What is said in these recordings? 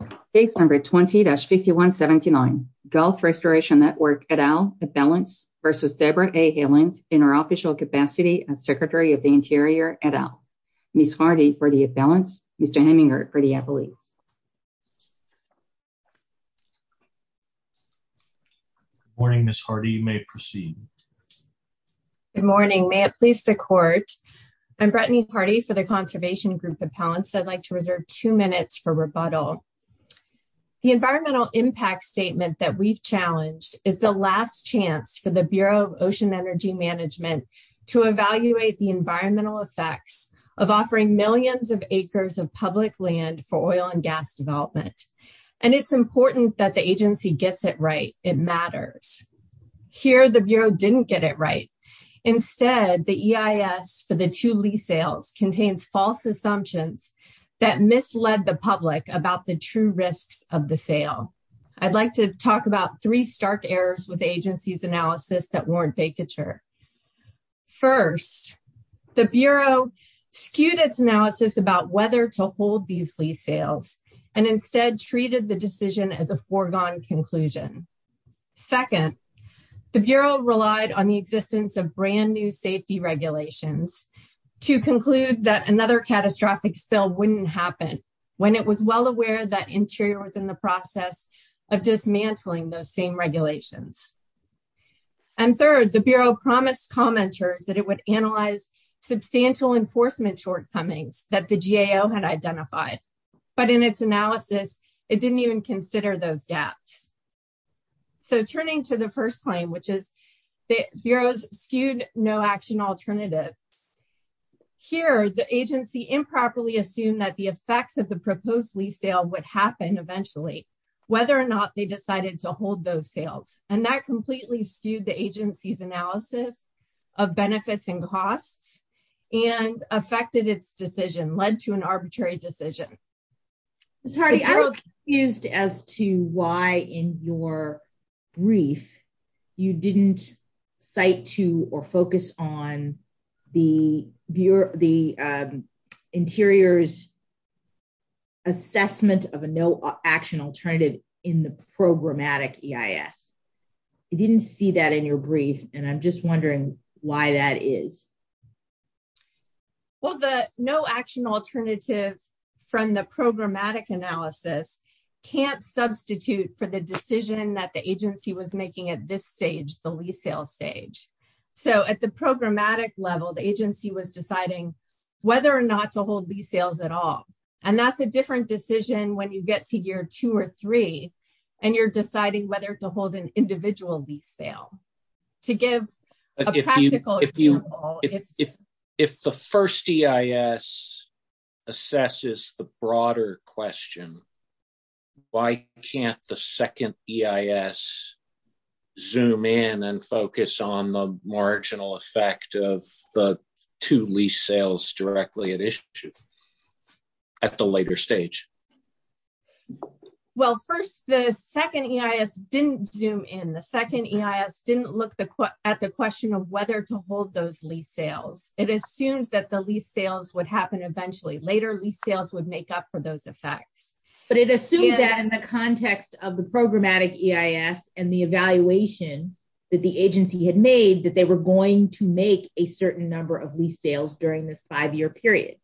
for the appellate. Thank you. Number 20-51 79 Gulf Restoration Network et al. Debra A. Haaland in her official capacity as secretary of the interior et al. Ms. Hardy for the appellants. Mr. Heminger for the appellates. Ms. Hardy, you may proceed. Good morning. May it please the court. I'm Brittany Hardy for the conservation group appellants. I'd like to reserve two minutes for rebuttal. The environmental impact statement that we've challenged is the last chance for the Bureau of Ocean Energy Management to evaluate the environmental effects of offering millions of acres of public land for oil and gas development. And it's important that the agency gets it right. It matters. Here the Bureau didn't get it right. Instead, the EIS for the two lease sales contains false assumptions that misled the public about the true risks of the sale. I'd like to talk about three stark errors with the agency's analysis that warrant vacature. First, the Bureau skewed its analysis about whether to hold these lease sales and instead treated the decision as a foregone conclusion. Second, the Bureau relied on the existence of brand-new safety regulations to conclude that another catastrophic spill wouldn't happen when it was well aware that Interior was in the process of dismantling those same regulations. And third, the Bureau promised commenters that it would analyze substantial enforcement shortcomings that the agency had identified. But in its analysis, it didn't even consider those gaps. So turning to the first claim, which is the Bureau's skewed no action alternative. Here the agency improperly assumed that the effects of the proposed lease sale would happen eventually, whether or not they decided to hold those sales. And that completely skewed the agency's analysis of benefits and costs and affected its decision, led to a statutory decision. I was confused as to why in your brief you didn't cite to or focus on the Interior's assessment of a no action alternative in the programmatic EIS. You didn't see that in your brief, and I'm just wondering why that is. Well, the no action alternative from the programmatic analysis can't substitute for the decision that the agency was making at this stage, the lease sale stage. So at the programmatic level, the agency was deciding whether or not to hold lease sales at all. And that's a different decision when you get to year two or three and you're deciding whether to hold an individual lease sale. To give a practical example, it's if the first EIS assesses the broader question, why can't the second EIS zoom in and focus on the marginal effect of the two lease sales directly at issue at the later stage? Well, first the second EIS didn't zoom in. The second EIS didn't look at the question of whether to hold those lease sales. It assumed that the lease sales would happen eventually. Later lease sales would make up for those effects. But it assumed that in the context of the programmatic EIS and the evaluation that the agency had made that they were going to make a certain number of lease sales during this five year period.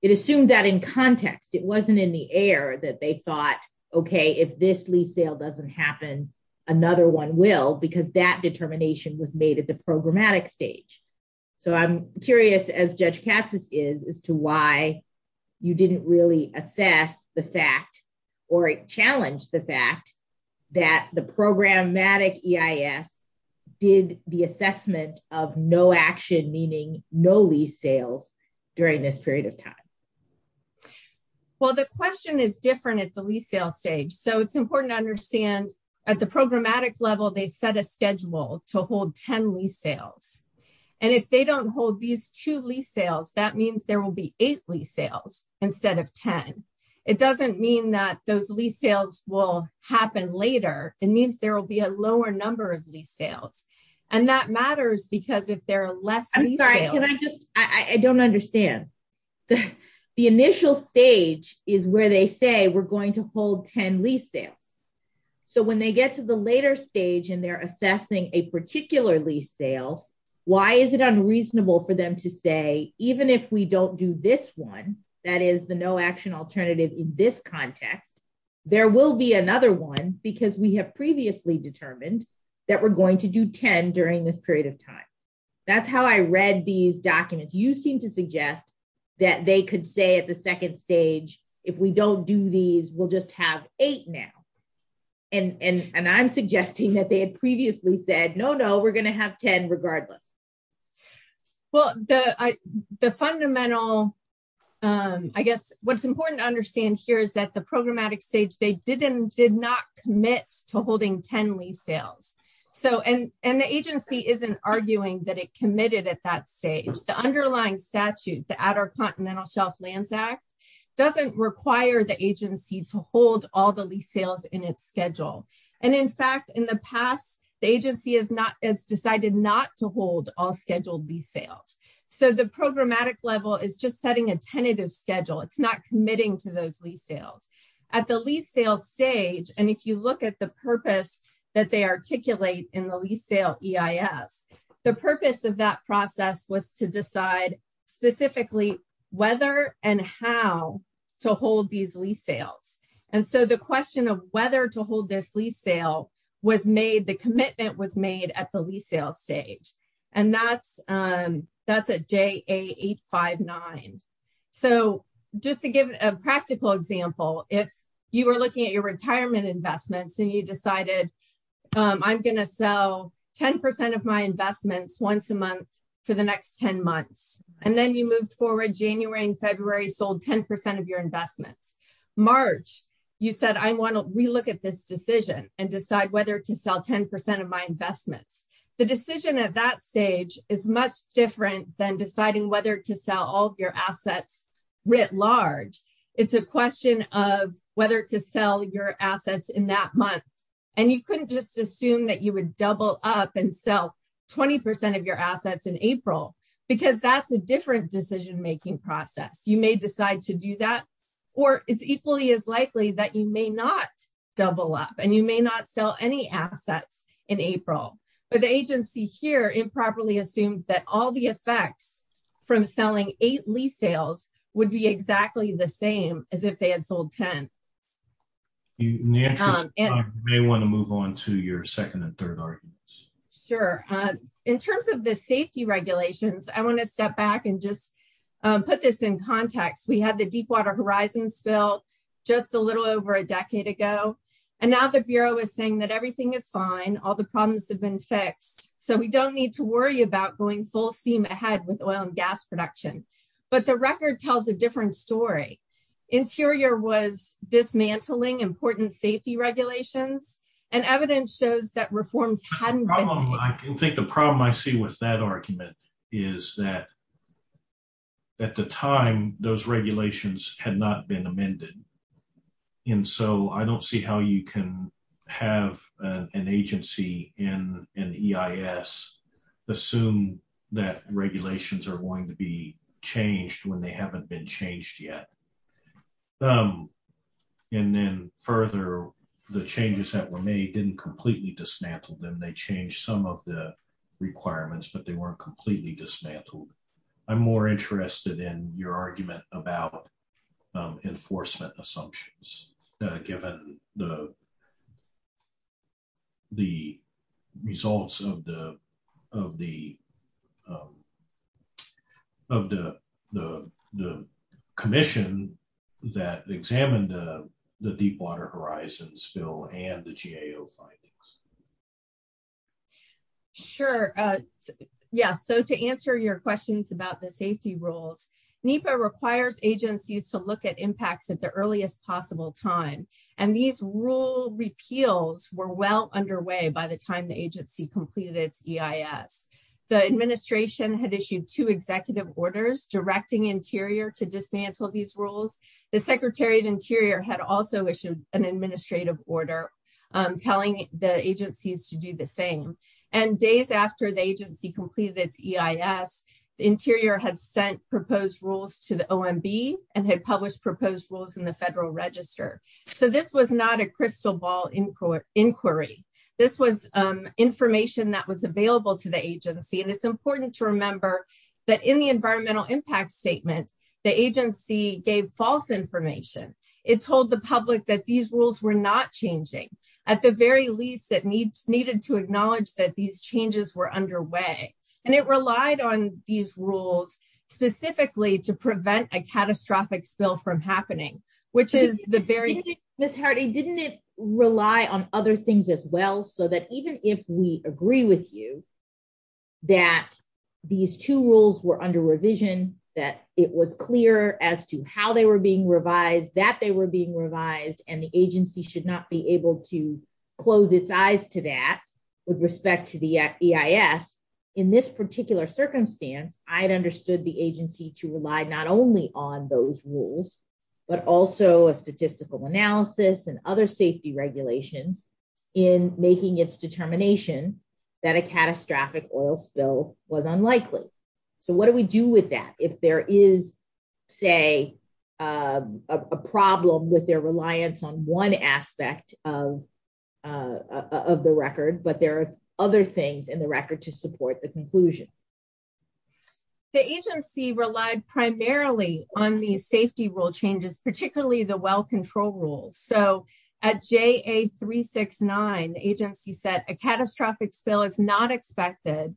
It assumed that in context, it wasn't in the air that they thought, okay, if this lease sale doesn't happen, another one will because that determination was made at the programmatic stage. So I'm curious as Judge Katsas is, as to why you didn't really assess the fact or challenge the fact that the programmatic EIS did the assessment of no action, meaning no lease sales during this period of time. Well, the question is different at the lease sale stage. So it's important to understand at the programmatic level, they set a schedule to hold 10 lease sales and if they don't hold these two lease sales, that means there will be eight lease sales instead of 10. It doesn't mean that those lease sales will happen later. It means there will be a lower number of lease sales. And that matters because if there are less lease sales. I don't understand. The initial stage is where they say we're going to hold 10 lease sales. So when they get to the later stage and they're assessing a particular lease sale, why is it unreasonable for them to say even if we don't do this one, that is the no action alternative in this context, there will be another one because we have previously determined that we're going to do 10 during this period of time. That's how I read these documents. You seem to suggest that they could say at the second stage, if we don't do these, we'll just have eight now. And I'm suggesting that they had previously said, no, no, we're going to have 10 regardless. Well, the fundamental, I guess what's important to understand here is that the programmatic stage, they did not commit to holding 10 lease sales. And the agency isn't arguing that it committed at that stage. The underlying statute, the Outer Continental Shelf Lands Act, doesn't require the agency to hold all the lease sales in its schedule. And in fact, in the past, the agency is not as committed to holding all the scheduled lease sales. So the programmatic level is just setting a tentative schedule. It's not committing to those lease sales. At the lease sales stage, and if you look at the purpose that they articulate in the lease sale EIS, the purpose of that process was to decide specifically whether and how to hold these lease sales. And so the question of whether to hold this lease sale was made, the question of whether or not to and the answer to that was to hold it at the lease sale stage. And that's at JA859. So just to give a practical example, if you were looking at your retirement investments and you decided I'm going to sell 10% of my investments once a month for the next 10 months, and then you moved forward January and February, sold 10% of your investments. March, you said I want to relook at this decision and decide whether to sell 10% of my investments. The decision at that stage is much different than deciding whether to sell all of your assets writ large. It's a question of whether to sell your assets in that month, and you couldn't just assume that you would double up and sell 20% of your assets in April, because that's a different decision-making process. You may decide to do that, or it's equally as likely that you may not double up and you may not sell any assets in April. But the agency here improperly assumed that all the effects from selling eight lease sales would be exactly the same as if they had sold 10. In the interest of time, you may want to move on to your second and third arguments. Sure. In terms of the safety regulations, I want to step back and just put this in context. We had the Deepwater Horizon spill just a little over a year ago, a little over a decade ago, and now the Bureau is saying that everything is fine, all the problems have been fixed, so we don't need to worry about going full steam ahead with oil and gas production, but the record tells a different story. Interior was dismantling important safety regulations, and evidence shows that reforms hadn't been ---- I think the problem I see with that argument is that at the time, those regulations had not been amended, and so I don't see how you can have an agency in EIS assume that regulations are going to be changed when they haven't been changed yet. And then further, the changes that were made didn't completely dismantle them. They changed some of the requirements, but they weren't I'm more interested in your argument about if you're going to be able to get enforcement assumptions, given the results of the commission that examined the Deepwater Horizons bill and the GAO findings. Sure. Yeah, so to answer your questions about the safety rules, NEPA requires agencies to look at impacts of the EIS. It requires agencies to look at impacts at the earliest possible time, and these rule repeals were well underway by the time the agency completed its EIS. The administration had issued two executive orders directing Interior to dismantle these rules. The Secretary of Interior had also issued an administrative order telling the agencies to do the same, and days after the agency completed its EIS, NEPA was able to dismantle these rules in the federal register. So this was not a crystal ball inquiry. This was information that was available to the agency, and it's important to remember that in the environmental impact statement, the agency gave false information. It told the public that these rules were not changing. At the very least, it needed to acknowledge that these changes were underway, and it relied on these rules specifically to dismantle the EIS. It told the public that these rules were not changing. Which is the very key. Ms. Hardy, didn't it rely on other things as well so that even if we agree with you that these two rules were under revision, that it was clear as to how they were being revised, that they were being revised, and the agency should not be reliant on the EIS, but also a statistical analysis and other safety regulations in making its determination that a catastrophic oil spill was unlikely. So what do we do with that if there is, say, a problem with their reliance on one aspect of the record, but there are other things in the record to support the conclusion? The agency relied primarily on these safety rule changes, particularly the well control rules. So at JA369, the agency said a catastrophic spill is not expected,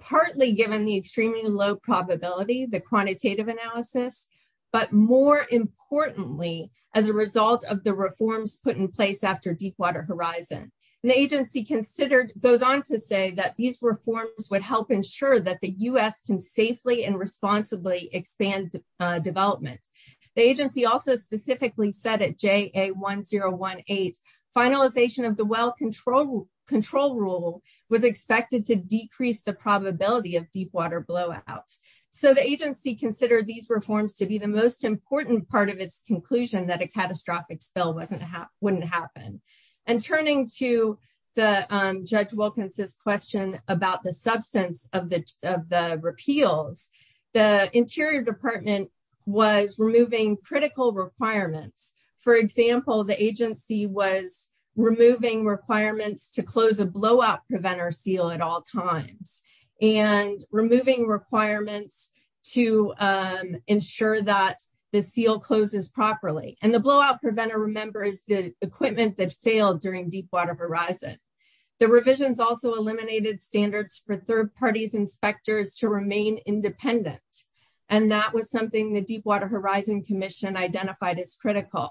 partly given the extremely low probability, the quantitative analysis, but more importantly, as a result of the reforms put in place after deep water horizon. And the agency considered, goes on to say that these reforms would help ensure that the U.S. can safely and responsibly expand development. The agency also specifically said at JA1018, finalization of the well control rule was expected to decrease the probability of deep water blowouts. So the agency considered these reforms to be the most important part of its conclusion that a catastrophic spill wouldn't happen. And turning to the judge Wilkinson's question about the substance of the repeals, the Interior Department was removing critical requirements. For example, the agency was removing requirements to close a blowout preventer seal at all times. And removing requirements to ensure that the seal closes properly. And the blowout preventer remembers the equipment that failed during deep water horizon. The revisions also eliminated standards for third parties inspectors to remain independent. And that was something the deep water horizon commission identified as critical.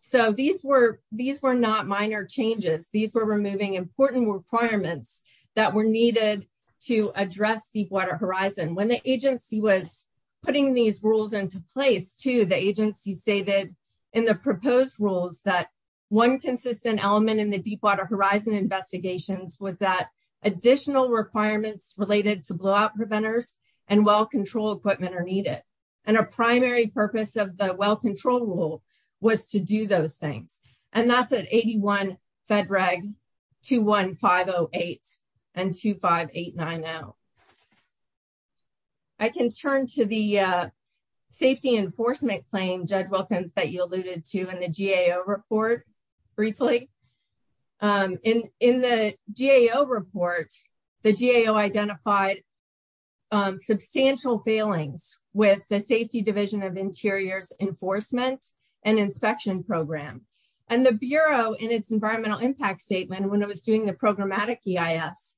So these were not minor changes. These were removing important requirements that were needed to address deep water horizon. When the agency was putting these rules into place, too, the agency stated in the proposed rules that one consistent element in the deep water horizon investigations was that additional requirements related to blowout preventers and well control equipment are needed. And a primary purpose of the well control rule was to do those things. And that's at 81 Fed Reg 21508 and 25890. I can turn to the safety enforcement claim, Judge Wilkinson, that you alluded to in the GAO report briefly. In the GAO report, the GAO reported substantial failings with the safety division of interiors enforcement and inspection program. And the bureau in its environmental impact statement when it was doing the programmatic EIS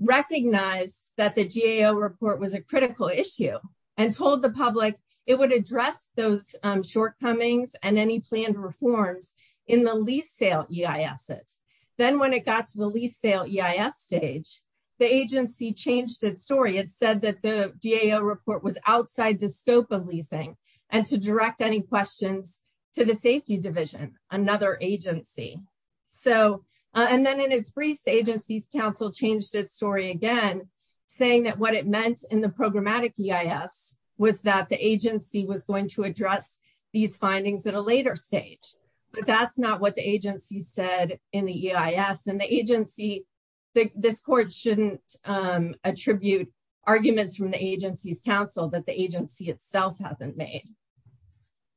recognized that the GAO report was a critical issue and told the public it would address those shortcomings and any planned reforms in the lease sale EISs. Then when it got to the lease sale EIS stage, the agency changed its story. It said that the GAO report was outside the scope of leasing and to direct any questions to the safety division, another agency. So and then in its brief, the agency's counsel changed its story again saying that what it meant in the programmatic EIS was that the agency was going to address these findings at a later stage. But that's not what the agency said in the EIS. And the agency, this court shouldn't attribute arguments from the agency's counsel that the agency itself hasn't made.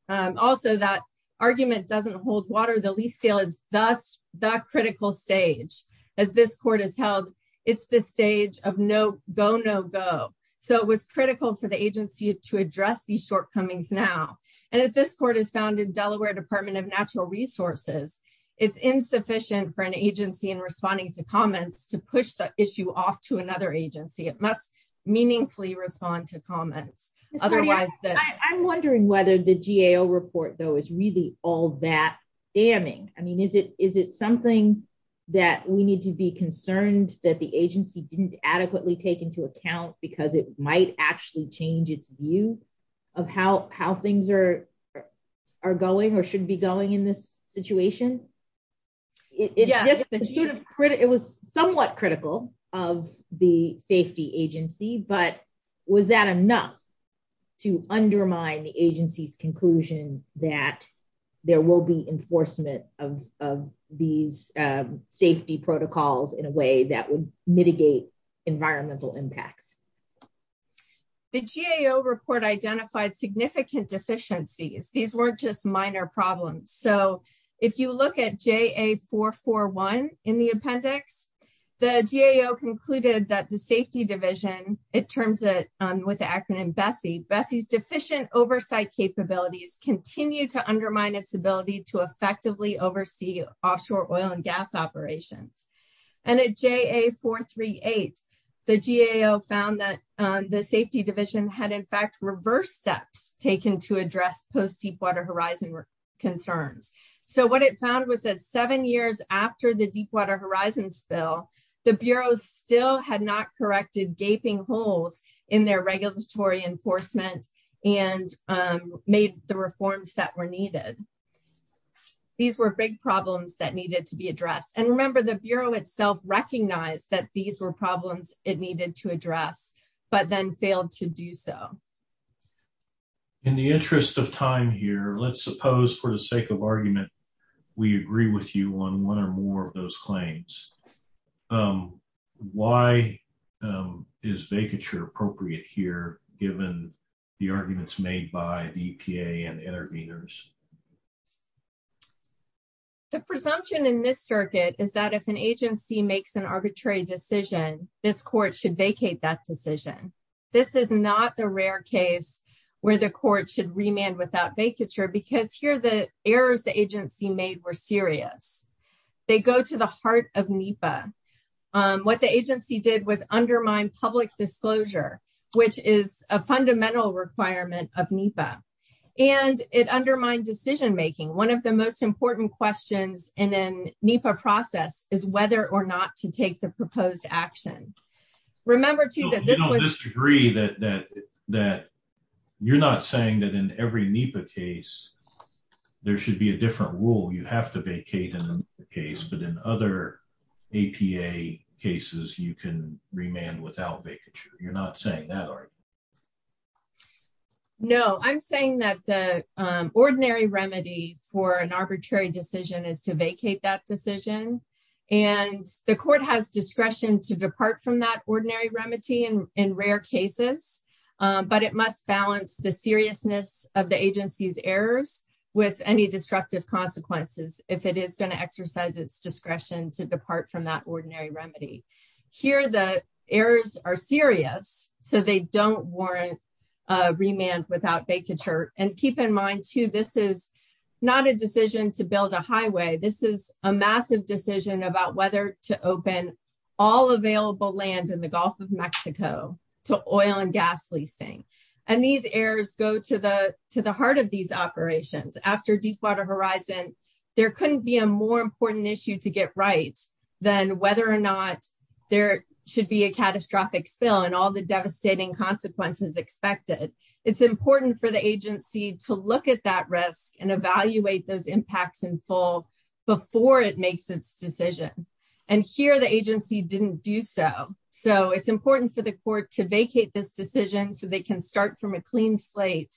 Also that argument doesn't hold water. The lease sale is thus the critical stage. As this court has held, it's the stage of no go, no go. So it was critical for the agency to address these shortcomings now. And as this court has found in Delaware department of natural resources, it's insufficient for an agency in responding to comments to push the issue off to another agency. It must meaningfully respond to Otherwise the ‑‑ I'm wondering whether the GAO report though is really all that damning. I mean, is it something that we need to be concerned that the agency didn't adequately take into account because it might actually change its view of how things are going or should be going in this situation? It was somewhat critical of the safety agency, but was that enough to undermine the agency's conclusion that there will be enforcement of these safety protocols in a way that would mitigate environmental impacts? The GAO report identified These weren't just minor problems. So if you look at the appendix, the GAO concluded that the safety division, it terms it with the acronym BESSI, BESSI's deficient oversight capabilities continue to undermine its ability to effectively oversee offshore oil and gas operations. And at JA438, the GAO found that the safety division had in fact post‑deep water horizon concerns. So what it found was that the seven years after the deep water horizon spill, the Bureau still had not corrected gaping holes in their regulatory enforcement and made the reforms that were needed. These were big problems that needed to be addressed. And remember, the Bureau itself recognized that these were problems it needed to address, but then failed to do so. In the interest of time here, let's suppose for the sake of time, we agree with you on one or more of those claims. Why is vacature appropriate here given the arguments made by the EPA and interveners? The presumption in this circuit is that if an agency makes an arbitrary decision, this court should vacate that decision. This is not the rare case where the court should remand without vacature because here the errors the agency made were serious. They go to the heart of NEPA. What the agency did was undermine public disclosure, which is a fundamental requirement of NEPA. And it undermined decision making. One of the most important questions in a NEPA process is whether or not to take the proposed action. Remember, too, that this was ‑‑ You don't disagree that you're not saying that in every NEPA case there should be a different rule. You have to vacate in the case, but in other APA cases you can remand without vacature. You're not saying that, are you? No. I'm saying that the ordinary remedy for an arbitrary decision is to vacate that decision, and the court has discretion to depart from that ordinary remedy in rare cases, but it must balance the seriousness of the agency's errors with any disruptive consequences if it is going to exercise its discretion to depart from that ordinary remedy. Here the errors are serious, so they don't warrant remand without vacature, and keep in mind, too, this is not a decision to build a highway. This is a massive decision about whether to open all available land in the Gulf of Mexico to oil and gas leasing, and these errors go to the heart of these operations. After Deepwater Horizon there couldn't be a more important issue to get right than whether or not there should be a catastrophic spill and all the devastating consequences expected. It's important for the agency to look at that risk and evaluate those impacts in full before it makes its decision, and here the agency didn't do so, so it's important for the court to vacate this decision so they can start from a clean slate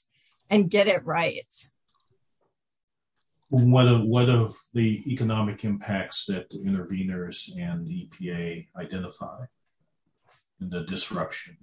and get it right. What of the economic impacts that interveners and EPA identify in the disruption?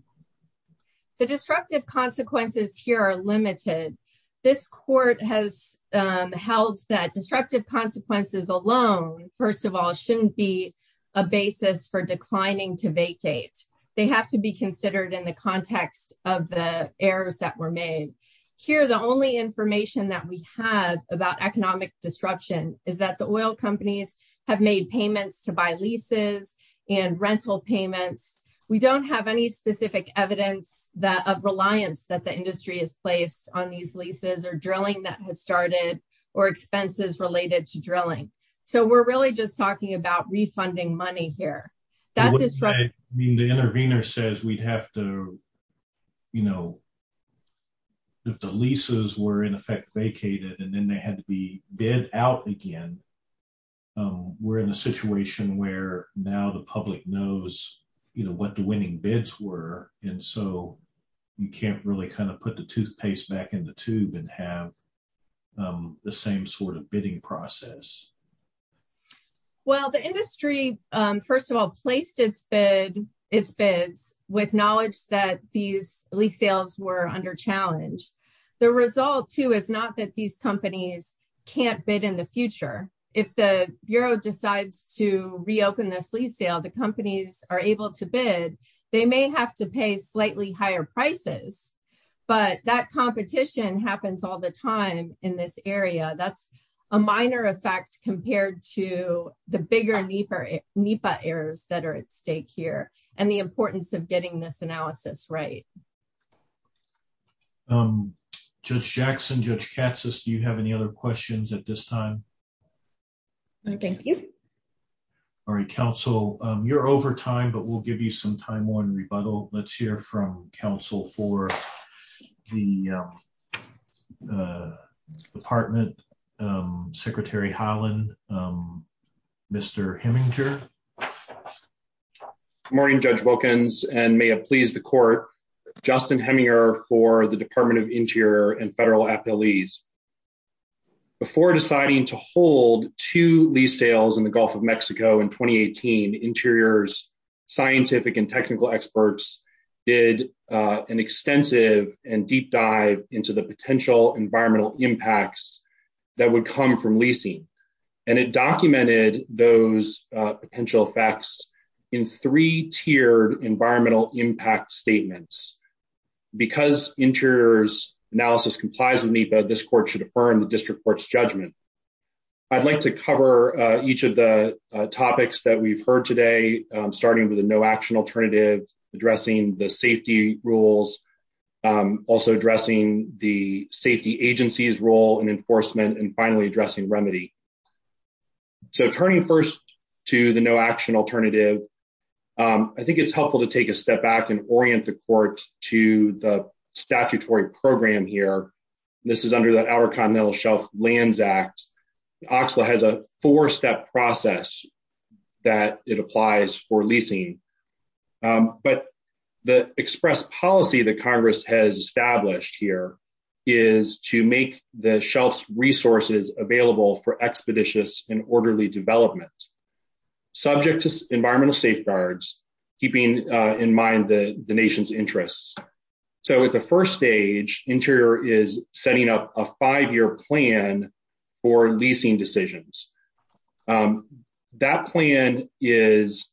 The disruptive consequences here are limited. This court has held that disruptive consequences alone, first of all, shouldn't be a basis for declining to vacate. They have to be considered in the context of the errors that were made. Here the only information that we have about economic disruption is that the oil companies have made payments to buy leases and rental payments. We don't have any specific evidence of reliance that the industry has placed on these leases or drilling that has started or expenses related to drilling, so we're really just talking about refunding money here. The intervener says we have to, you know, if the leases were in effect vacated and then they had to be bid out again, we're in a situation where now the public knows, you know, what the winning bids were, and so you can't really kind of put the toothpaste back in the tube and have the same sort of bidding process. Well, the industry, first of all, placed its bids with knowledge that these lease sales were under challenge. The result, too, is not that these companies can't bid in the future. If the bureau decides to reopen this lease sale, the companies are able to bid. They may have to pay slightly higher prices, but that competition happens all the time in this area. That's a minor effect compared to the bigger NEPA errors that are at stake here and the importance of getting this analysis right. Thank you. Judge Jackson, Judge Katsas, do you have any other questions at this time? No, thank you. All right. Counsel, you're over time, but we'll give you some time-worn rebuttal. Let's hear from counsel for the department, Secretary Holland, Mr. Hemminger. Good morning, Judge Wilkins, and Justin Hemminger for the Department of Interior and federal appellees. Before deciding to hold two lease sales in the Gulf of Mexico in 2018, Interior's scientific and technical experts did an extensive and deep dive into the potential environmental impacts that would come from leasing, and it documented those potential effects in three-tiered environmental impact statements. Because Interior's analysis complies with NEPA, this court should affirm the district court's judgment. I'd like to cover each of the topics that we've heard today, starting with the no-action alternative, addressing the safety rules, also addressing the safety agency's role in enforcement, and finally addressing remedy. So turning first to the no-action alternative, I think it's helpful to take a step back and orient the court to the statutory program here. This is under the Outer Continental Shelf Lands Act. OCSLA has a four-step process that it applies for leasing, but the express policy that Congress has established here is to make the shelf's resources available for expeditious and orderly development. Subject to environmental safeguards, keeping in mind the nation's interests. So at the first stage, Interior is setting up a five-year plan for leasing decisions. That plan is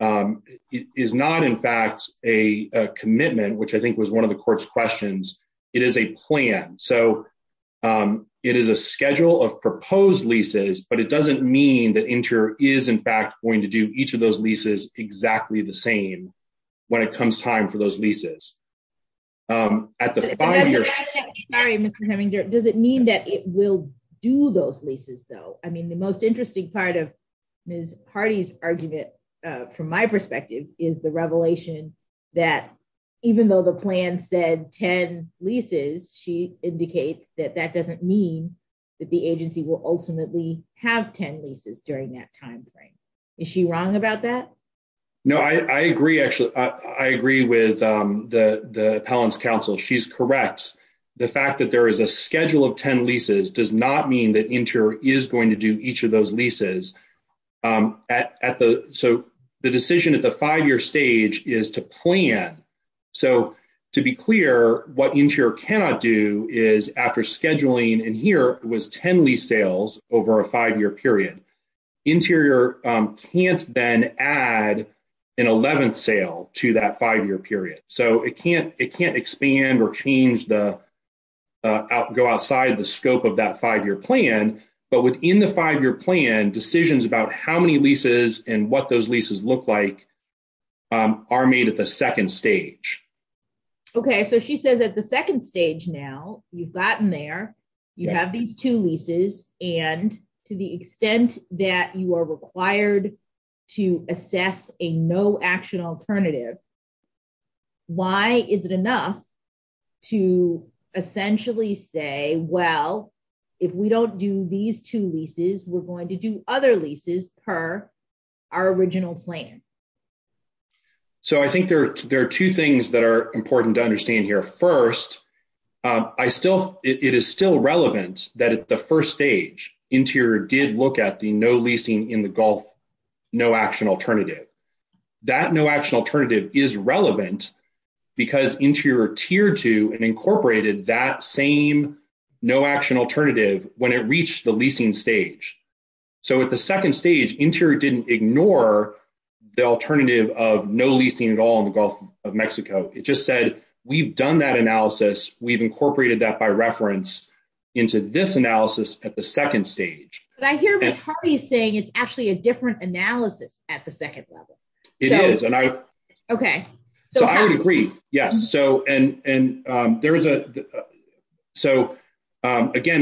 not, in fact, a commitment, which I think was one of the court's questions. It is a plan. So it is a schedule of proposed leases, but it doesn't mean that Interior is, in fact, going to do each of those leases exactly the same when it comes time for those leases. Sorry, Mr. Heminger. Does it mean that it will do those leases, though? I mean, the most interesting part of Ms. Hardy's argument from my perspective is the revelation that even though the plan said 10 leases, she indicates that that doesn't mean that the agency will ultimately have 10 leases during that timeframe. Is she wrong about that? I agree, actually. I agree with the appellant's counsel. She's correct. The fact that there is a schedule of 10 leases does not mean that Interior is going to do each of those leases. So the decision at the five-year stage is to plan. So to be clear, what Interior cannot do is after scheduling, and here it was 10 lease sales over a five-year period, Interior can't then add an 11th sale to that five-year period. So it can't expand or go outside the scope of that five-year plan, but within the five-year plan, decisions about how many leases and what those leases look like are made at the second stage. Okay. So she says at the second stage now, you've gotten there, you have these two leases, and to the extent that you are required to assess a no-action alternative, why is it enough to essentially say, well, if we don't do these two leases, we're going to do other leases per our original plan? So I think there are two things that are important to understand here. First, it is still relevant that at the first stage Interior did look at the no leasing in the Gulf no-action alternative. That no-action alternative is relevant because Interior tiered to and incorporated that same no-action alternative when it reached the leasing stage. So at the second stage, Interior didn't ignore the alternative of no leasing at all in the Gulf of Mexico. It just said we've done that analysis, we've incorporated that by reference into this analysis at the second stage. But I hear Ms. Hardy saying it's actually a different analysis at the second level. It is. Okay. So I would agree. Yes. So again,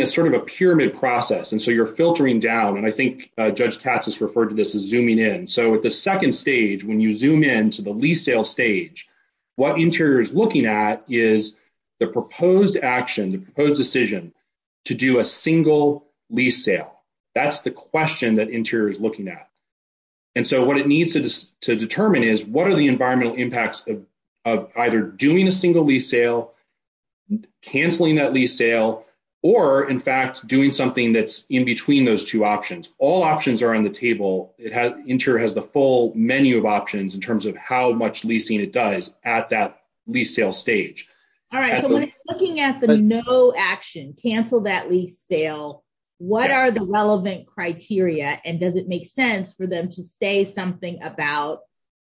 it's sort of a pyramid process. And so you're filtering down, and I think Judge Katz has referred to this as zooming in. So at the second stage, when you zoom in to the lease sale stage, what Interior is looking at is the proposed action, the proposed decision to do a single lease sale. That's the question that Interior is looking at. And so what it needs to determine is what are the environmental impacts of either doing a single lease sale, canceling that lease sale, or in fact doing something that's in between those two options. All options are on the table. Interior has the full menu of options in terms of how much leasing it does at that lease sale stage. All right. So looking at the no-action, cancel that lease sale, what are the relevant criteria, and does it make sense for them to say something about,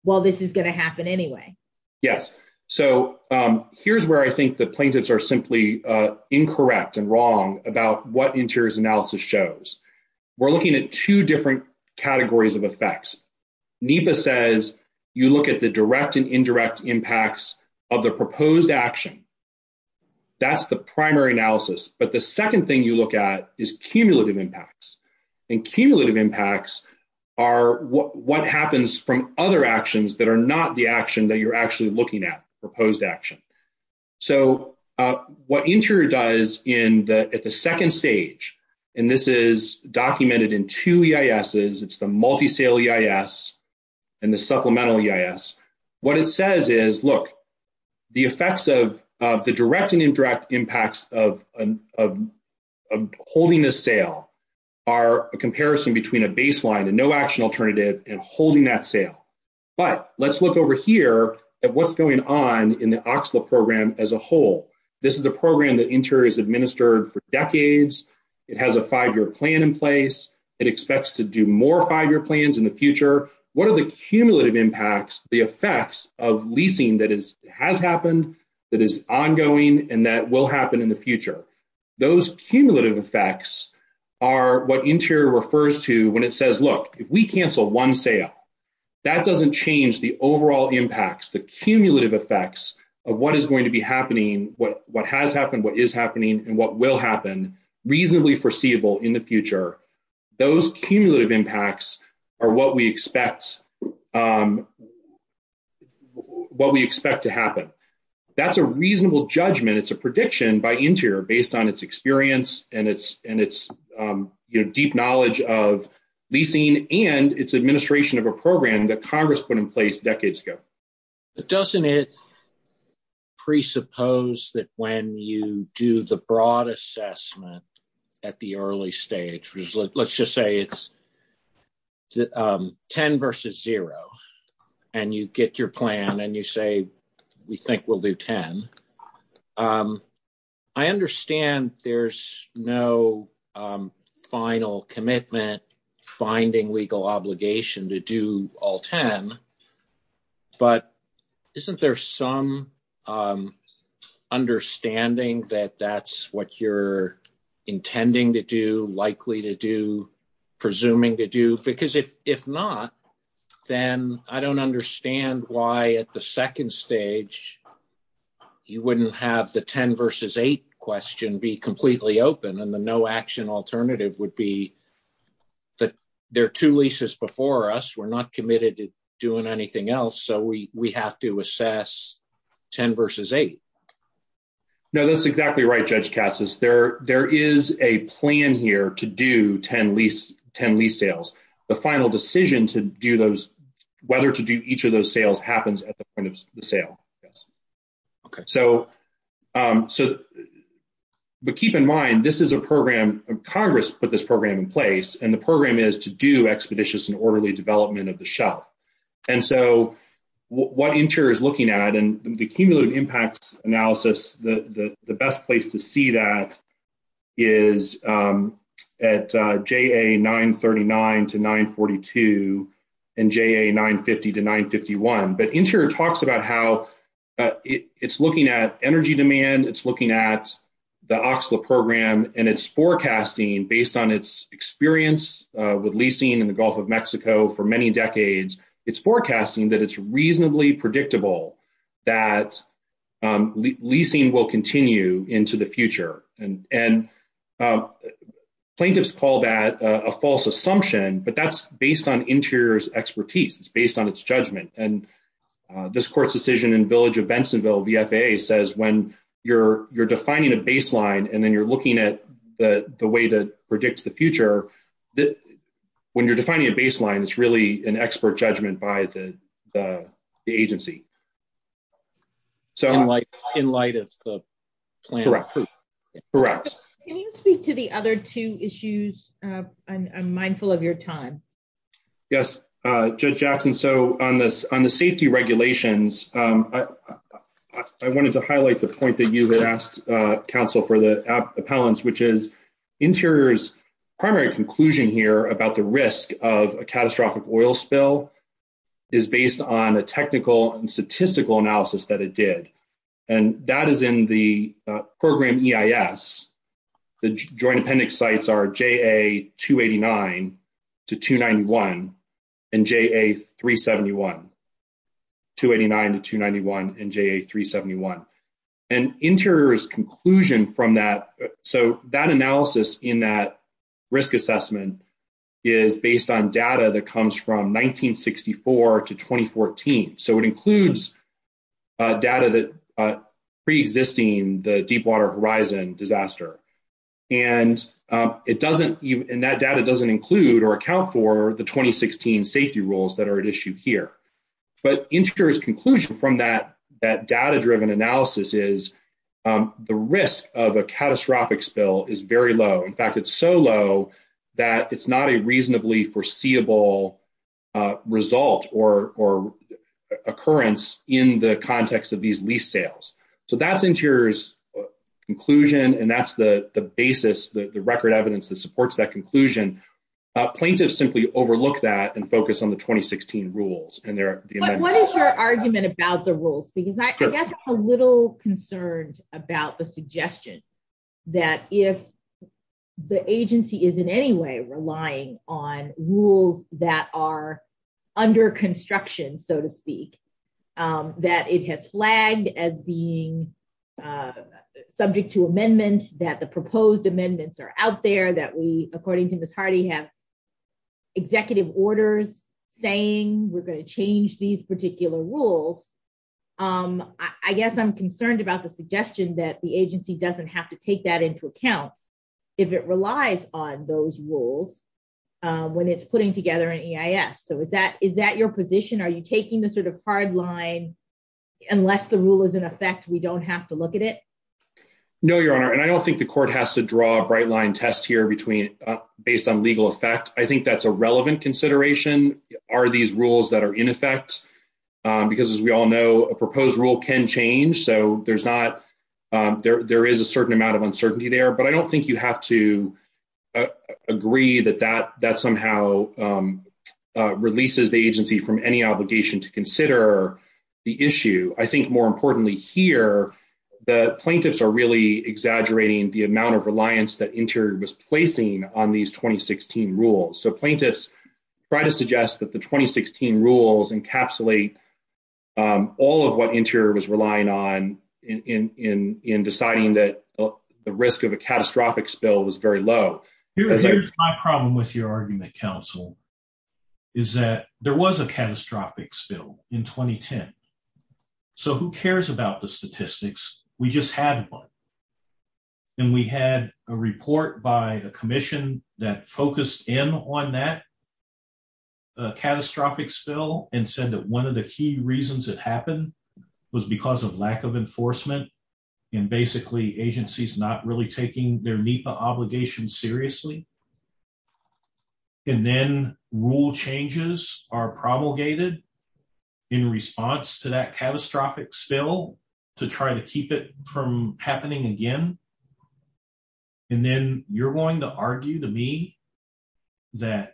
well, this is going to happen anyway? Yes. So here's where I think the plaintiffs are simply incorrect and wrong about what Interior's analysis shows. We're looking at two different categories of effects. NEPA says you look at the direct and indirect impacts of the proposed action. That's the primary analysis. But the second thing you look at is cumulative impacts. And cumulative impacts are what happens from other actions that are not the action that you're actually looking at, proposed action. So what Interior does at the second stage, and this is documented in two EISs, it's the multi-sale EIS and the supplemental EIS, what it says is, look, the effects of the direct and indirect impacts of holding a sale are a comparison between a solution alternative and holding that sale. But let's look over here at what's going on in the OCSLA program as a whole. This is a program that Interior has administered for decades. It has a five-year plan in place. It expects to do more five-year plans in the future. What are the cumulative impacts, the effects of leasing that has happened, that is ongoing, and that will happen in the future? Those cumulative effects are what Interior refers to when it says, cancel one sale. That doesn't change the overall impacts, the cumulative effects of what is going to be happening, what has happened, what is happening, and what will happen, reasonably foreseeable in the future. Those cumulative impacts are what we expect to happen. That's a reasonable judgment. It's a prediction by Interior based on its experience and its deep knowledge of leasing and its administration of a program that Congress put in place decades ago. Doesn't it presuppose that when you do the broad assessment at the early stage, let's just say it's 10 versus zero, and you get your plan and you say we think we'll do 10, I understand there's no final commitment finding legal obligation to do all 10, but isn't there some understanding that that's what you're intending to do, likely to do, presuming to do? Because if not, then I don't understand why at the second stage you wouldn't have the 10 versus eight question be answered, and the no action alternative would be that there are two leases before us. We're not committed to doing anything else, so we have to assess 10 versus eight. No, that's exactly right, Judge Katsas. There is a plan here to do 10 lease sales. The final decision to do those, whether to do each of those sales happens at the point of the sale. Okay. But keep in mind, this is a program, Congress put this program in place, and the program is to do expeditious and orderly development of the shelf, and so what Interior is looking at, and the cumulative impact analysis, the best place to see that is at JA 939 to 942 and JA 950 to 951, but Interior talks about how it's looking at energy demand, it's looking at the OXLA program, and it's forecasting based on its experience with leasing in the Gulf of Mexico for many decades, it's forecasting that it's reasonably predictable that leasing will continue into the future, and plaintiffs call that a false assumption, but that's based on Interior's expertise. It's based on its judgment, and this court's decision in Village of Bensonville VFA says when you're defining a baseline and then you're looking at the way to predict the future, when you're defining a baseline, it's really an expert judgment by the agency. So in light of the plan. Correct. Correct. Can you speak to the other two issues? I'm mindful of your time. Yes. Judge Jackson, so on the safety regulations, I wanted to highlight the point that you had asked counsel for the appellants, which is Interior's primary conclusion here about the risk of a catastrophic oil spill is based on a technical and statistical analysis that it did, and that is in the program EIS. The joint appendix sites are JA289 to 291 and JA371. 289 to 291 and JA371. And Interior's conclusion from that, so that analysis in that risk assessment is based on data that comes from 1964 to 2014. So it includes data that preexisting the Deepwater Horizon disaster, and it doesn't include or account for the 2016 safety rules that are at issue here. But Interior's conclusion from that data-driven analysis is the risk of a catastrophic spill is very low. In fact, it's so low that it's not a reasonably foreseeable result or occurrence in the context of these lease sales. So that's Interior's conclusion, and that's the basis, the record evidence that supports that conclusion. Plaintiffs simply overlook that and focus on the 2016 rules. What is your argument about the rules? Because I guess I'm a little concerned about the suggestion that if the agency is in any way relying on rules that are under construction, so to speak, that it has flagged as being subject to amendment, that the proposed amendments are out there, that we according to Ms. Hardy have executive orders saying we're going to change these particular rules. I guess I'm concerned about the suggestion that the agency doesn't have to take that into account if it relies on those rules when it's putting together an EIS. So is that your position? Are you taking the sort of hard line, unless the rule is in effect, we don't have to look at it? No, Your Honor, and I don't think the court has to draw a bright line test here based on legal effect. I think that's a relevant consideration. Are these rules that are in effect? Because as we all know, a proposed rule can change, so there's not ‑‑ there is a certain amount of uncertainty there, but I don't think you have to agree that that somehow releases the agency from any obligation to consider the issue. I think more importantly here, the plaintiffs are really exaggerating the amount of reliance that Interior was placing on these 2016 rules. So plaintiffs try to suggest that the 2016 rules encapsulate all of what Interior was relying on in deciding that the risk of a catastrophic spill was very low. Here's my problem with your argument, counsel, is that there was a catastrophic spill in 2010. So who cares about the statistics? We just had one. And we had a report by the commission that focused in on that catastrophic spill and said that one of the key reasons it happened was because of lack of enforcement and basically agencies not really taking their NEPA obligations seriously. And then rule changes are promulgated in response to that to try to keep it from happening again. And then you're going to argue to me that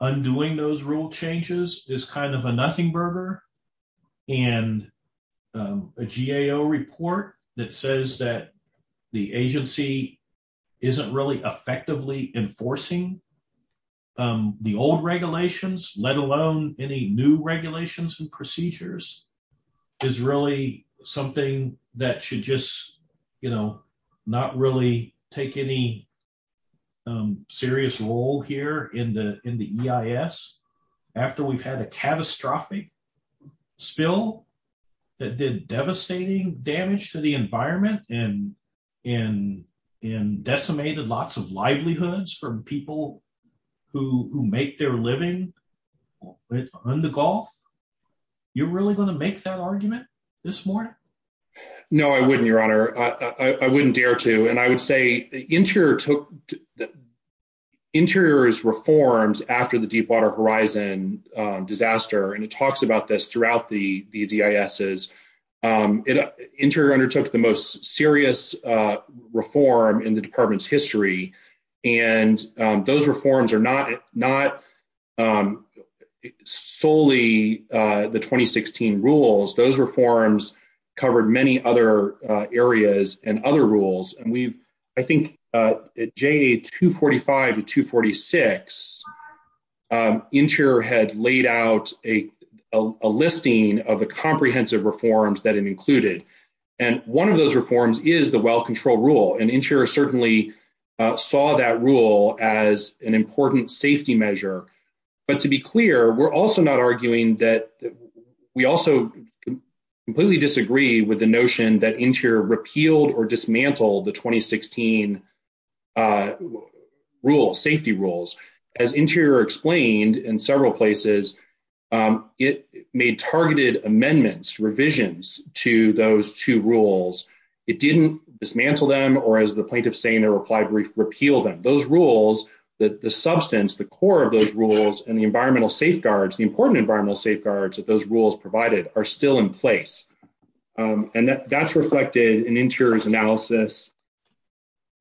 undoing those rule changes is kind of a nothing burger and a GAO report that says that the agency isn't really effectively enforcing the old regulations, let alone any new regulations and procedures, is really something that should just, you know, not really take any serious role here in the EIS after we've had a catastrophic spill that did devastating damage to the environment and decimated lots of livelihoods from people who make their living on the Gulf. You're really going to make that argument this morning? No, I wouldn't, your honor. I wouldn't dare to. And I would say Interior took Interior's reforms after the deep water horizon disaster, and it talks about this throughout these EISs, Interior undertook the most serious reform in the department's history, and those reforms are not solely the 2016 rules. Those reforms covered many other areas and other rules, and we've I think at JA245 to 246, Interior had laid out a listing of the comprehensive reforms that it included, and one of those reforms is the well control rule, and Interior certainly saw that rule as an important safety measure but to be clear, we're also not arguing that we also completely disagree with the notion that Interior repealed or dismantled the 2016 rule, safety rules. As Interior explained in several places, it made targeted amendments, revisions to those two rules. It didn't dismantle them or as the plaintiff's saying, repeal them. Those rules, the substance, the nature of those rules and the environmental safeguards, the important environmental safeguards that those rules provided are still in place, and that's reflected in Interior's analysis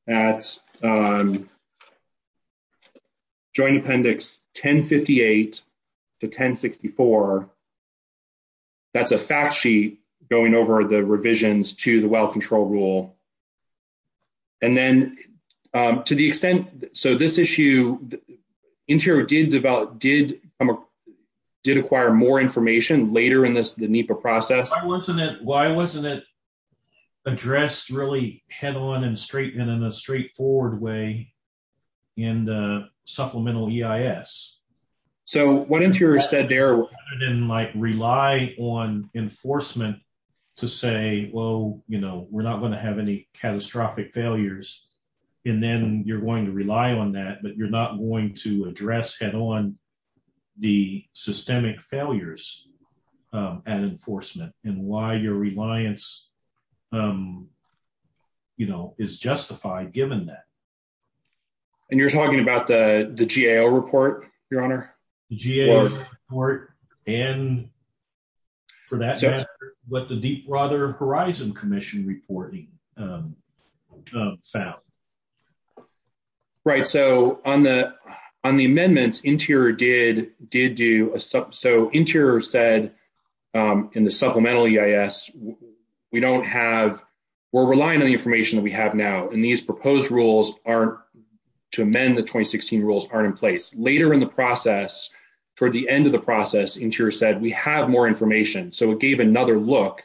at joint appendix 1058 to 1064. That's a fact sheet going over the revisions to the well control rule, and then to the extent, so this issue, Interior did acquire more information later in the NEPA process. Why wasn't it addressed really head on and in a straightforward way in the supplemental EIS? So what Interior said there was rely on enforcement to say, well, you know, we're not going to have any catastrophic failures, and then you're going to rely on that but you're not going to address head on the systemic failures at enforcement and why your reliance is justified given that. And you're talking about the GAO report, your honor? The GAO report and for that matter what the Deepwater Horizon Commission reporting found. So on the amendments Interior did do, so Interior said in the supplemental EIS, we don't have, we're relying on the information that we have now, and these proposed rules aren't, to amend the 2016 rules aren't in place. Later in the process, toward the end of the process, Interior said we have more information. So it gave another look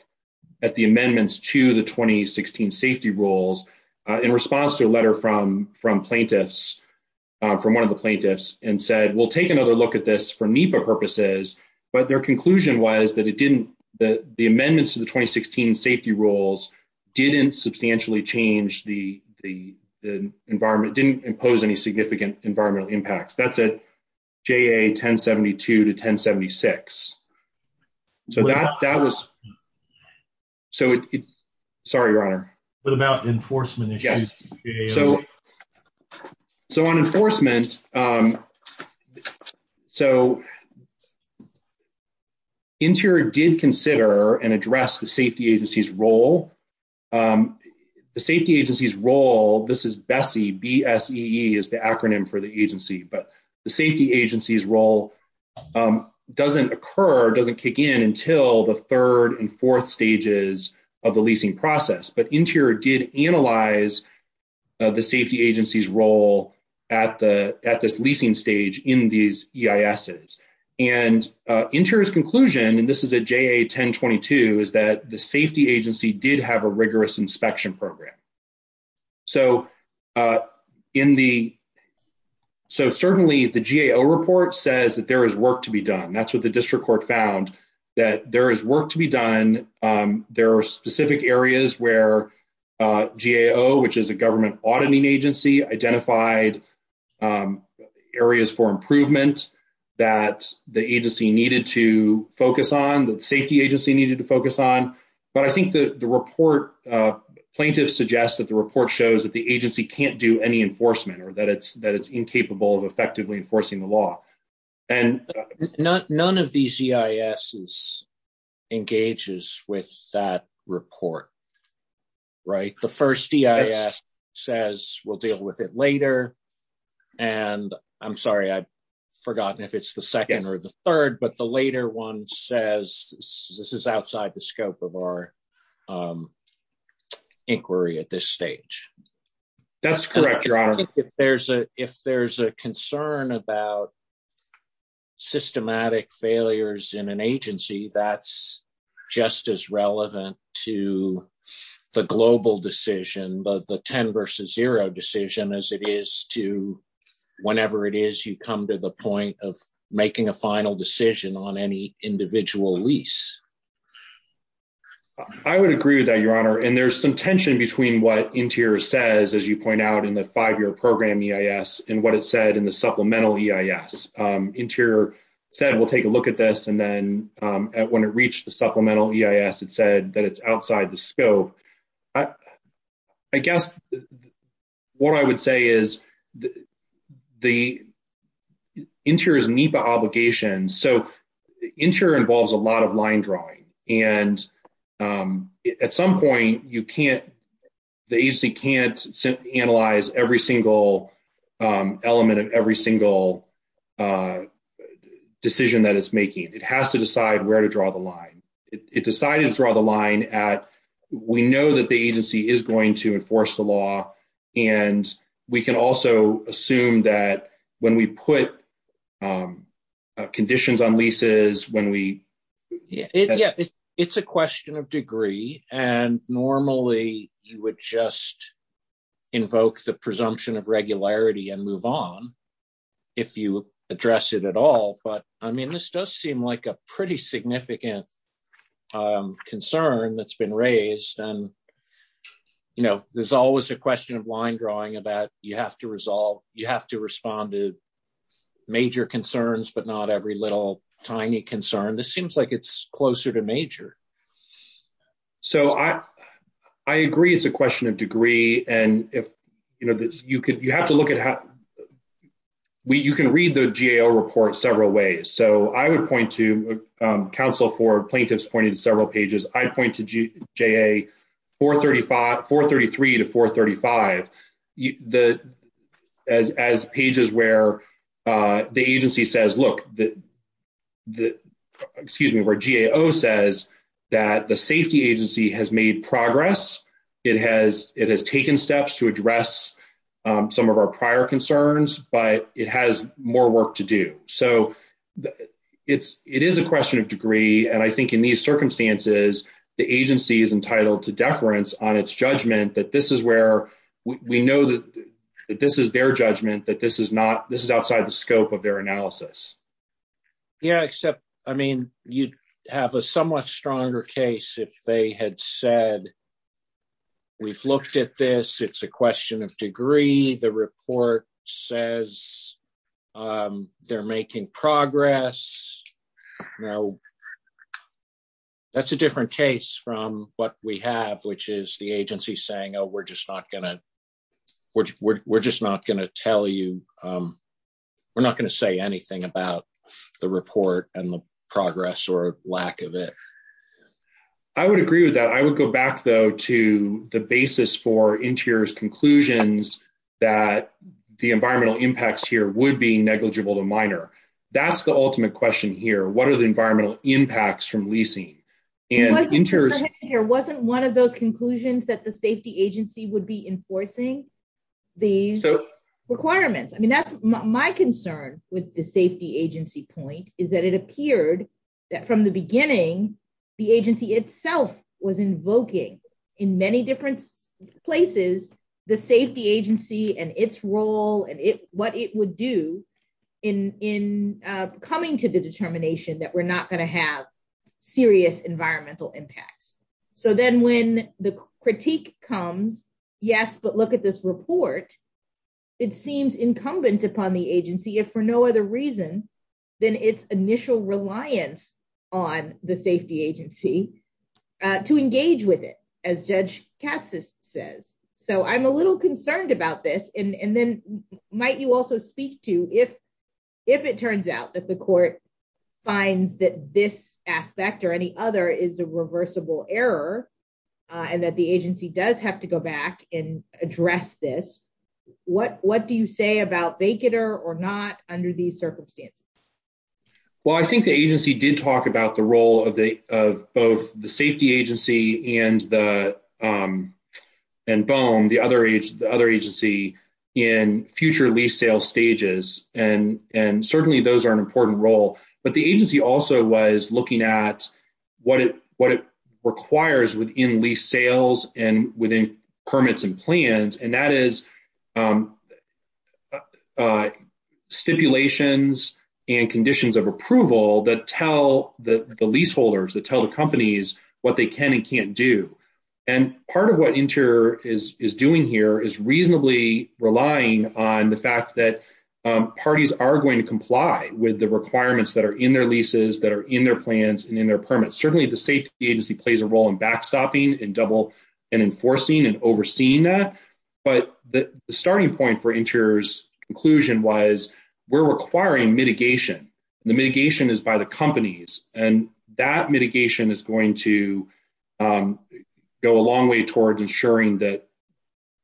at the amendments to the 2016 safety rules in response to a letter from plaintiffs, from one of the plaintiffs and said we'll take another look at this for NEPA purposes, but their conclusion was that it didn't, the amendments to the 2016 safety rules didn't substantially change the environment, didn't impose any significant environmental impacts. That's at GA 1072 to 1076. So that was, so it, sorry, your honor. What about enforcement issues? So on enforcement, so Interior did consider and address the safety agency's role. The safety agency's role, this is BSEE, B-S-E-E is the acronym for the agency, but the safety agency's role doesn't occur, doesn't kick in until the third and fourth stages of the leasing process, but Interior did analyze the safety agency's role at this leasing stage in these EISs, and Interior's conclusion, and this is at GA 1022, is that the safety agency did have a rigorous inspection program. So in the, so certainly the GAO report says that there is work to be done. That's what the district court found, that there is work to be done. There are specific areas where GAO, which is a government auditing agency, identified areas for improvement that the agency needed to focus on, the safety agency needed to focus on, but I think the report, plaintiffs suggest that the report shows that the agency can't do any enforcement or that it's incapable of effectively enforcing the law. None of these EISs engages with that report. Right? The first EIS says we'll deal with it later, and I'm sorry, I have forgotten if it's the second or the third, but the later one says this is outside the scope of our inquiry at this stage. That's correct, John. If there's a concern about systematic failures in an agency, that's just as relevant to the global decision, the ten versus zero decision as it is to whenever it is you come to the point of making a final decision on any individual lease. I would agree with that, your honor, and there's some tension between what interior says as you point out in the five-year program EIS and what it said in the supplemental EIS. Interior said we'll take a look at this, and then when it reached the supplemental EIS, it said that it's outside the scope. I guess what I would say is the interior's NEPA obligations, so interior involves a lot of line drawing, and at some point you can't, the agency can't analyze every single element of every single decision that it's making and it has to decide where to draw the line. It decided to draw the line at we know that the agency is going to enforce the law, and we can also assume that when we put conditions on leases, when we ---- yeah, it's a question of degree, and normally you would just invoke the presumption of regularity and move on if you address it at all, but I mean this does seem like a pretty significant concern that's been raised, and, you know, there's always a question of line drawing about you have to resolve, you have to respond to major concerns but not every little tiny concern. This seems like it's closer to major. So I agree it's a question of degree, and if, you know, you have to look at how, you can read the GAO report several ways, so I would point to counsel for plaintiffs pointing to several pages. I'd point to GA 433 to 435 as pages where the agency says, look, excuse me, where GAO says that the safety agency has made progress. It has taken steps to address some of our prior concerns, but it has more work to do. So it is a question of degree, and I think in these circumstances the agency is entitled to deference on its judgment that this is where we know that this is their judgment that this is not, this is outside the scope of their analysis. Yeah, except, I mean, you have a somewhat stronger case if they had said we've looked at this, it's a question of degree, the agency is making progress. Now, that's a different case from what we have, which is the agency saying, oh, we're just not going to tell you, we're not going to say anything about the report and the progress or lack of it. I would agree with that. I would go back, though, to the basis for interior's conclusions that the environmental impacts here would be negligible to minor. That's the ultimate question here. What are the environmental impacts from leasing? Wasn't one of those conclusions that the safety agency would be enforcing these requirements? I mean, that's my concern with the safety agency point is that it appeared that from the beginning the agency itself was invoking in many different places the safety agency and its role and what it would do in coming to the determination that we're not going to have serious environmental impacts. So then when the critique comes, yes, but look at this report, it seems incumbent upon the agency if for no other reason than its initial reliance on the safety agency to engage with it, as Judge Katz says. So I'm a little concerned about this. And then might you also speak to if it turns out that the court finds that this aspect or any other is a reversible error and that the agency does have to go back and address this, what do you say about Baikonur or not under these circumstances? Well, I think the agency did talk about the role of both the safety agency and BOEM, the other agency, in future lease sales stages. And certainly those are an important role. But the agency also was looking at what it requires within lease sales and within permits and plans, and that is stipulations and conditions of approval that tell the leaseholders, that tell the companies what they can and can't do. And part of what Inter is doing here is reasonably relying on the fact that parties are going to comply with the requirements that are in their leases, that are in their plans and in their permits. Certainly the safety agency plays a role in backstopping and enforcing and overseeing that. But the starting point for Inter's conclusion was we're requiring mitigation. The mitigation is by the companies. And that mitigation is going to go a long way towards ensuring that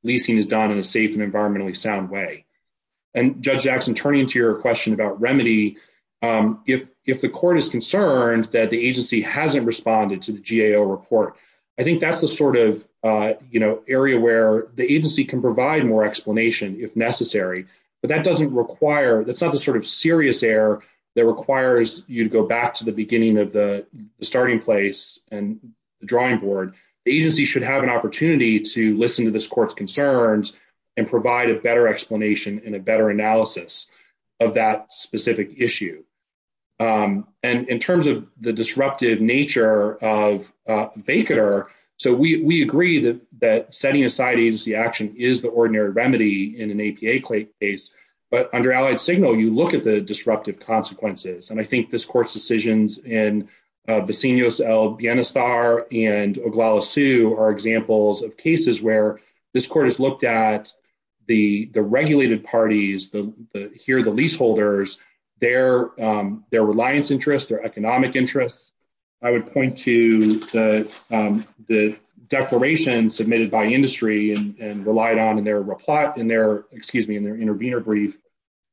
leasing is done in a safe and environmentally sound way. And Judge Jackson, turning to your question about remedy, if the court is concerned that the agency hasn't responded to the GAO report, I think that's the sort of, you know, area where the agency can provide more explanation if necessary. But that doesn't require, that's not the sort of serious error that requires you to go back to the beginning of the starting place and drawing board. The agency should have an opportunity to listen to this court's concerns and provide a better explanation and a better analysis of that specific issue. And in terms of the disruptive nature of vacater, so we agree that setting aside agency action is the ordinary remedy in an APA case. But under allied signal, you look at the disruptive consequences. And I think this court's decisions in Vecinos L. Bienestar and Oglala Sue are examples of cases where this court has looked at the regulated parties, here the leaseholders, their reliance interests, their economic interests. I would point to the declaration submitted by industry and relied on in their intervener brief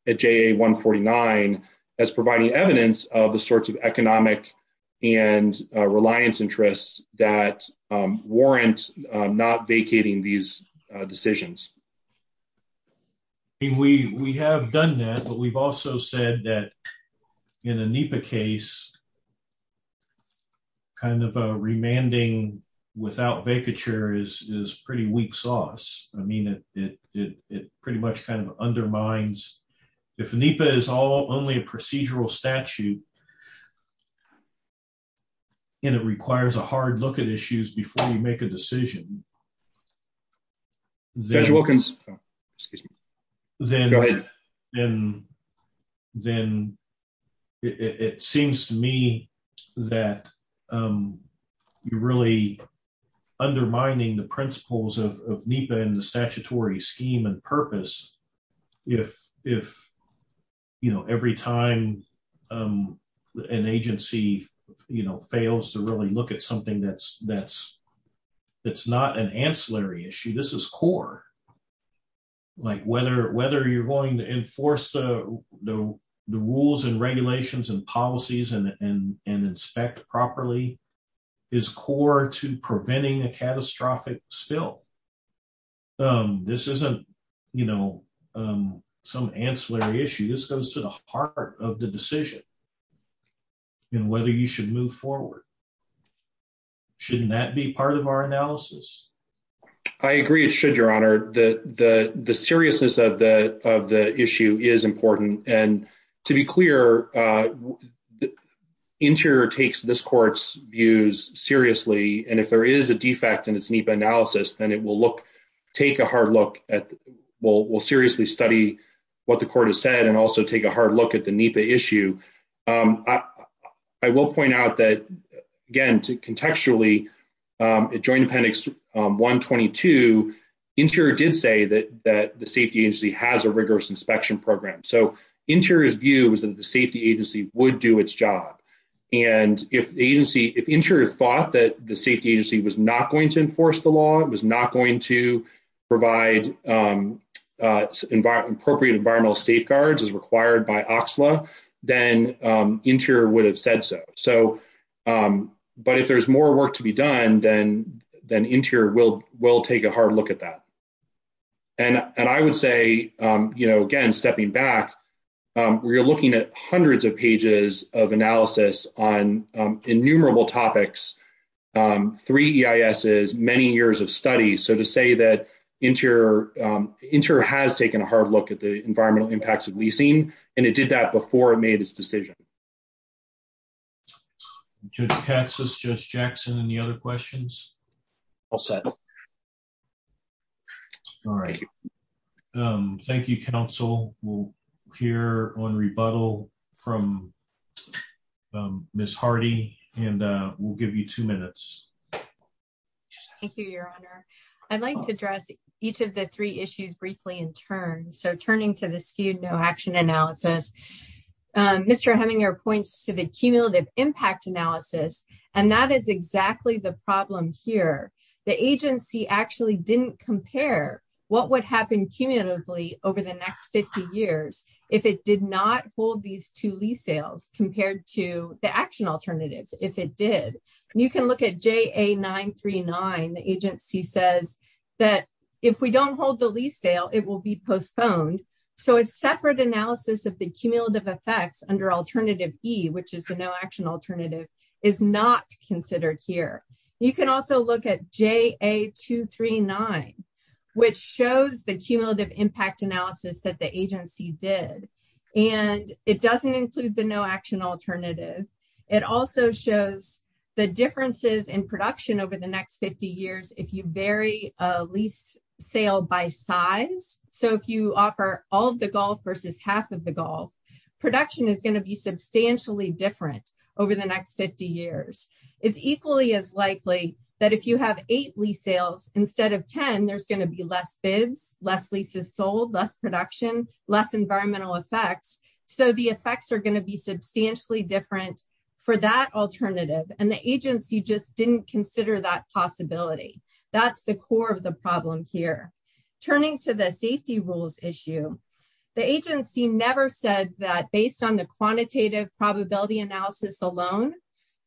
at JA149 as providing evidence of the sorts of economic and reliance interests that warrant not vacating these decisions. We have done that, but we've also said that in a NEPA case kind of a remanding without vacature is pretty weak sauce. I mean, it pretty much kind of undermines if NEPA is only a procedural statute and it requires a hard look at issues before you make a decision. Then it seems to me that you really undermining the principles of NEPA and the statutory scheme and purpose if every time an agency fails to look at something that's not an ancillary issue. This is core. Like whether you're going to enforce the rules and regulations and policies and inspect properly is core to preventing a catastrophic spill. This isn't, you know, some ancillary issue. This goes to the heart of the decision and whether you should move forward. Shouldn't that be part of our analysis? I agree it should, your honor. The seriousness of the issue is important, and to be clear, Interior takes this court's views seriously, and if there is a defect in its NEPA analysis, then it will look take a hard look at we'll seriously study what the court has said and also take a hard look at the NEPA issue. I will point out that, again, contextually, Joint Appendix 122 Interior did say that the safety agency has a rigorous inspection program, so Interior's view was that the safety agency would do its job, and if the agency, if Interior thought that the safety agency was not going to enforce the law, it was not going to provide appropriate environmental safeguards as required by OCSLA, then Interior would have said so, but if there's more work to be done, then Interior will take a hard look at that, and I would say, you know, again, stepping back, we are looking at hundreds of pages of analysis on innumerable topics, three EISs, many years of studies, so to say that Interior has taken a hard look at the environmental impacts of leasing, and it did that before it made its decision. Judge Katz, Judge Jackson, any other questions? All set. All right. Thank you, counsel. We'll hear on rebuttal from Miss Hardy, and we'll give you two minutes. Thank you, your honor. I'd like to address each of the three issues briefly in turn, so turning to the skewed no action analysis, Mr. Heminger points to the cumulative impact analysis, and that is exactly the problem here. The agency actually didn't compare what would happen cumulatively over the next 50 years if it did not hold these two lease sales compared to the action alternatives, if it did. You can look at JA939, the agency says that if we don't hold the lease sale, it will be postponed, so a separate analysis of the cumulative effects under alternative E, which is the no action alternative, is not considered here. You can also look at JA239, which shows the cumulative impact analysis that the agency did, and it doesn't include the no action alternative. It also shows the differences in production over the next 50 years if you vary a lease sale by size, so if you offer all of the golf golf, production is going to be substantially different over the next 50 years. It's equally as likely that if you have eight lease sales instead of ten, there's going to be less bids, less leases sold, less production, less environmental effects, so the effects are going to be substantially different for that alternative, and the agency just didn't consider that possibility. That's the core of the problem here. Turning to the safety rules issue, the agency never said that based on the quantitative probability analysis alone,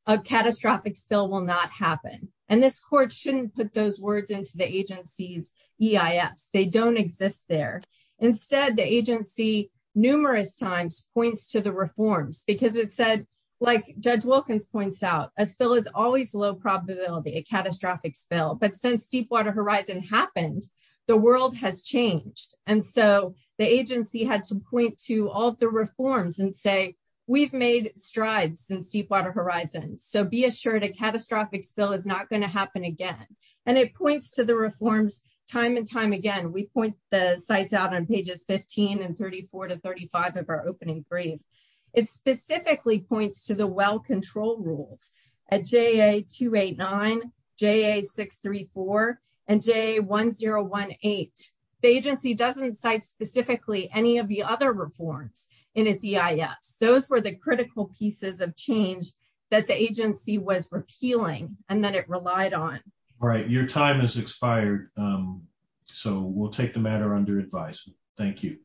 a catastrophic spill will not happen, and this court shouldn't put those words into the agency's EIS. They don't exist there. Instead, the agency numerous times points to the reforms because it said, like Judge Wilkins points out, a spill is always low probability, a catastrophic spill, but since Deepwater Horizon happened, the world has changed, and so the agency had to point to all the reforms and say, we've made strides since Deepwater Horizon, so be assured a catastrophic spill is not going to happen again, and it points to the reforms time and time again. We point the sites out on pages 15 and 34 to 35 of our opening brief. It specifically points to the well control rules at JA289, JA634, and JA1018. The agency doesn't cite specifically any of the other reforms in its EIS. Those were the critical pieces of change that the agency was repealing and that it relied on. All right. Your time has expired, so we'll take the matter under advice. Thank you.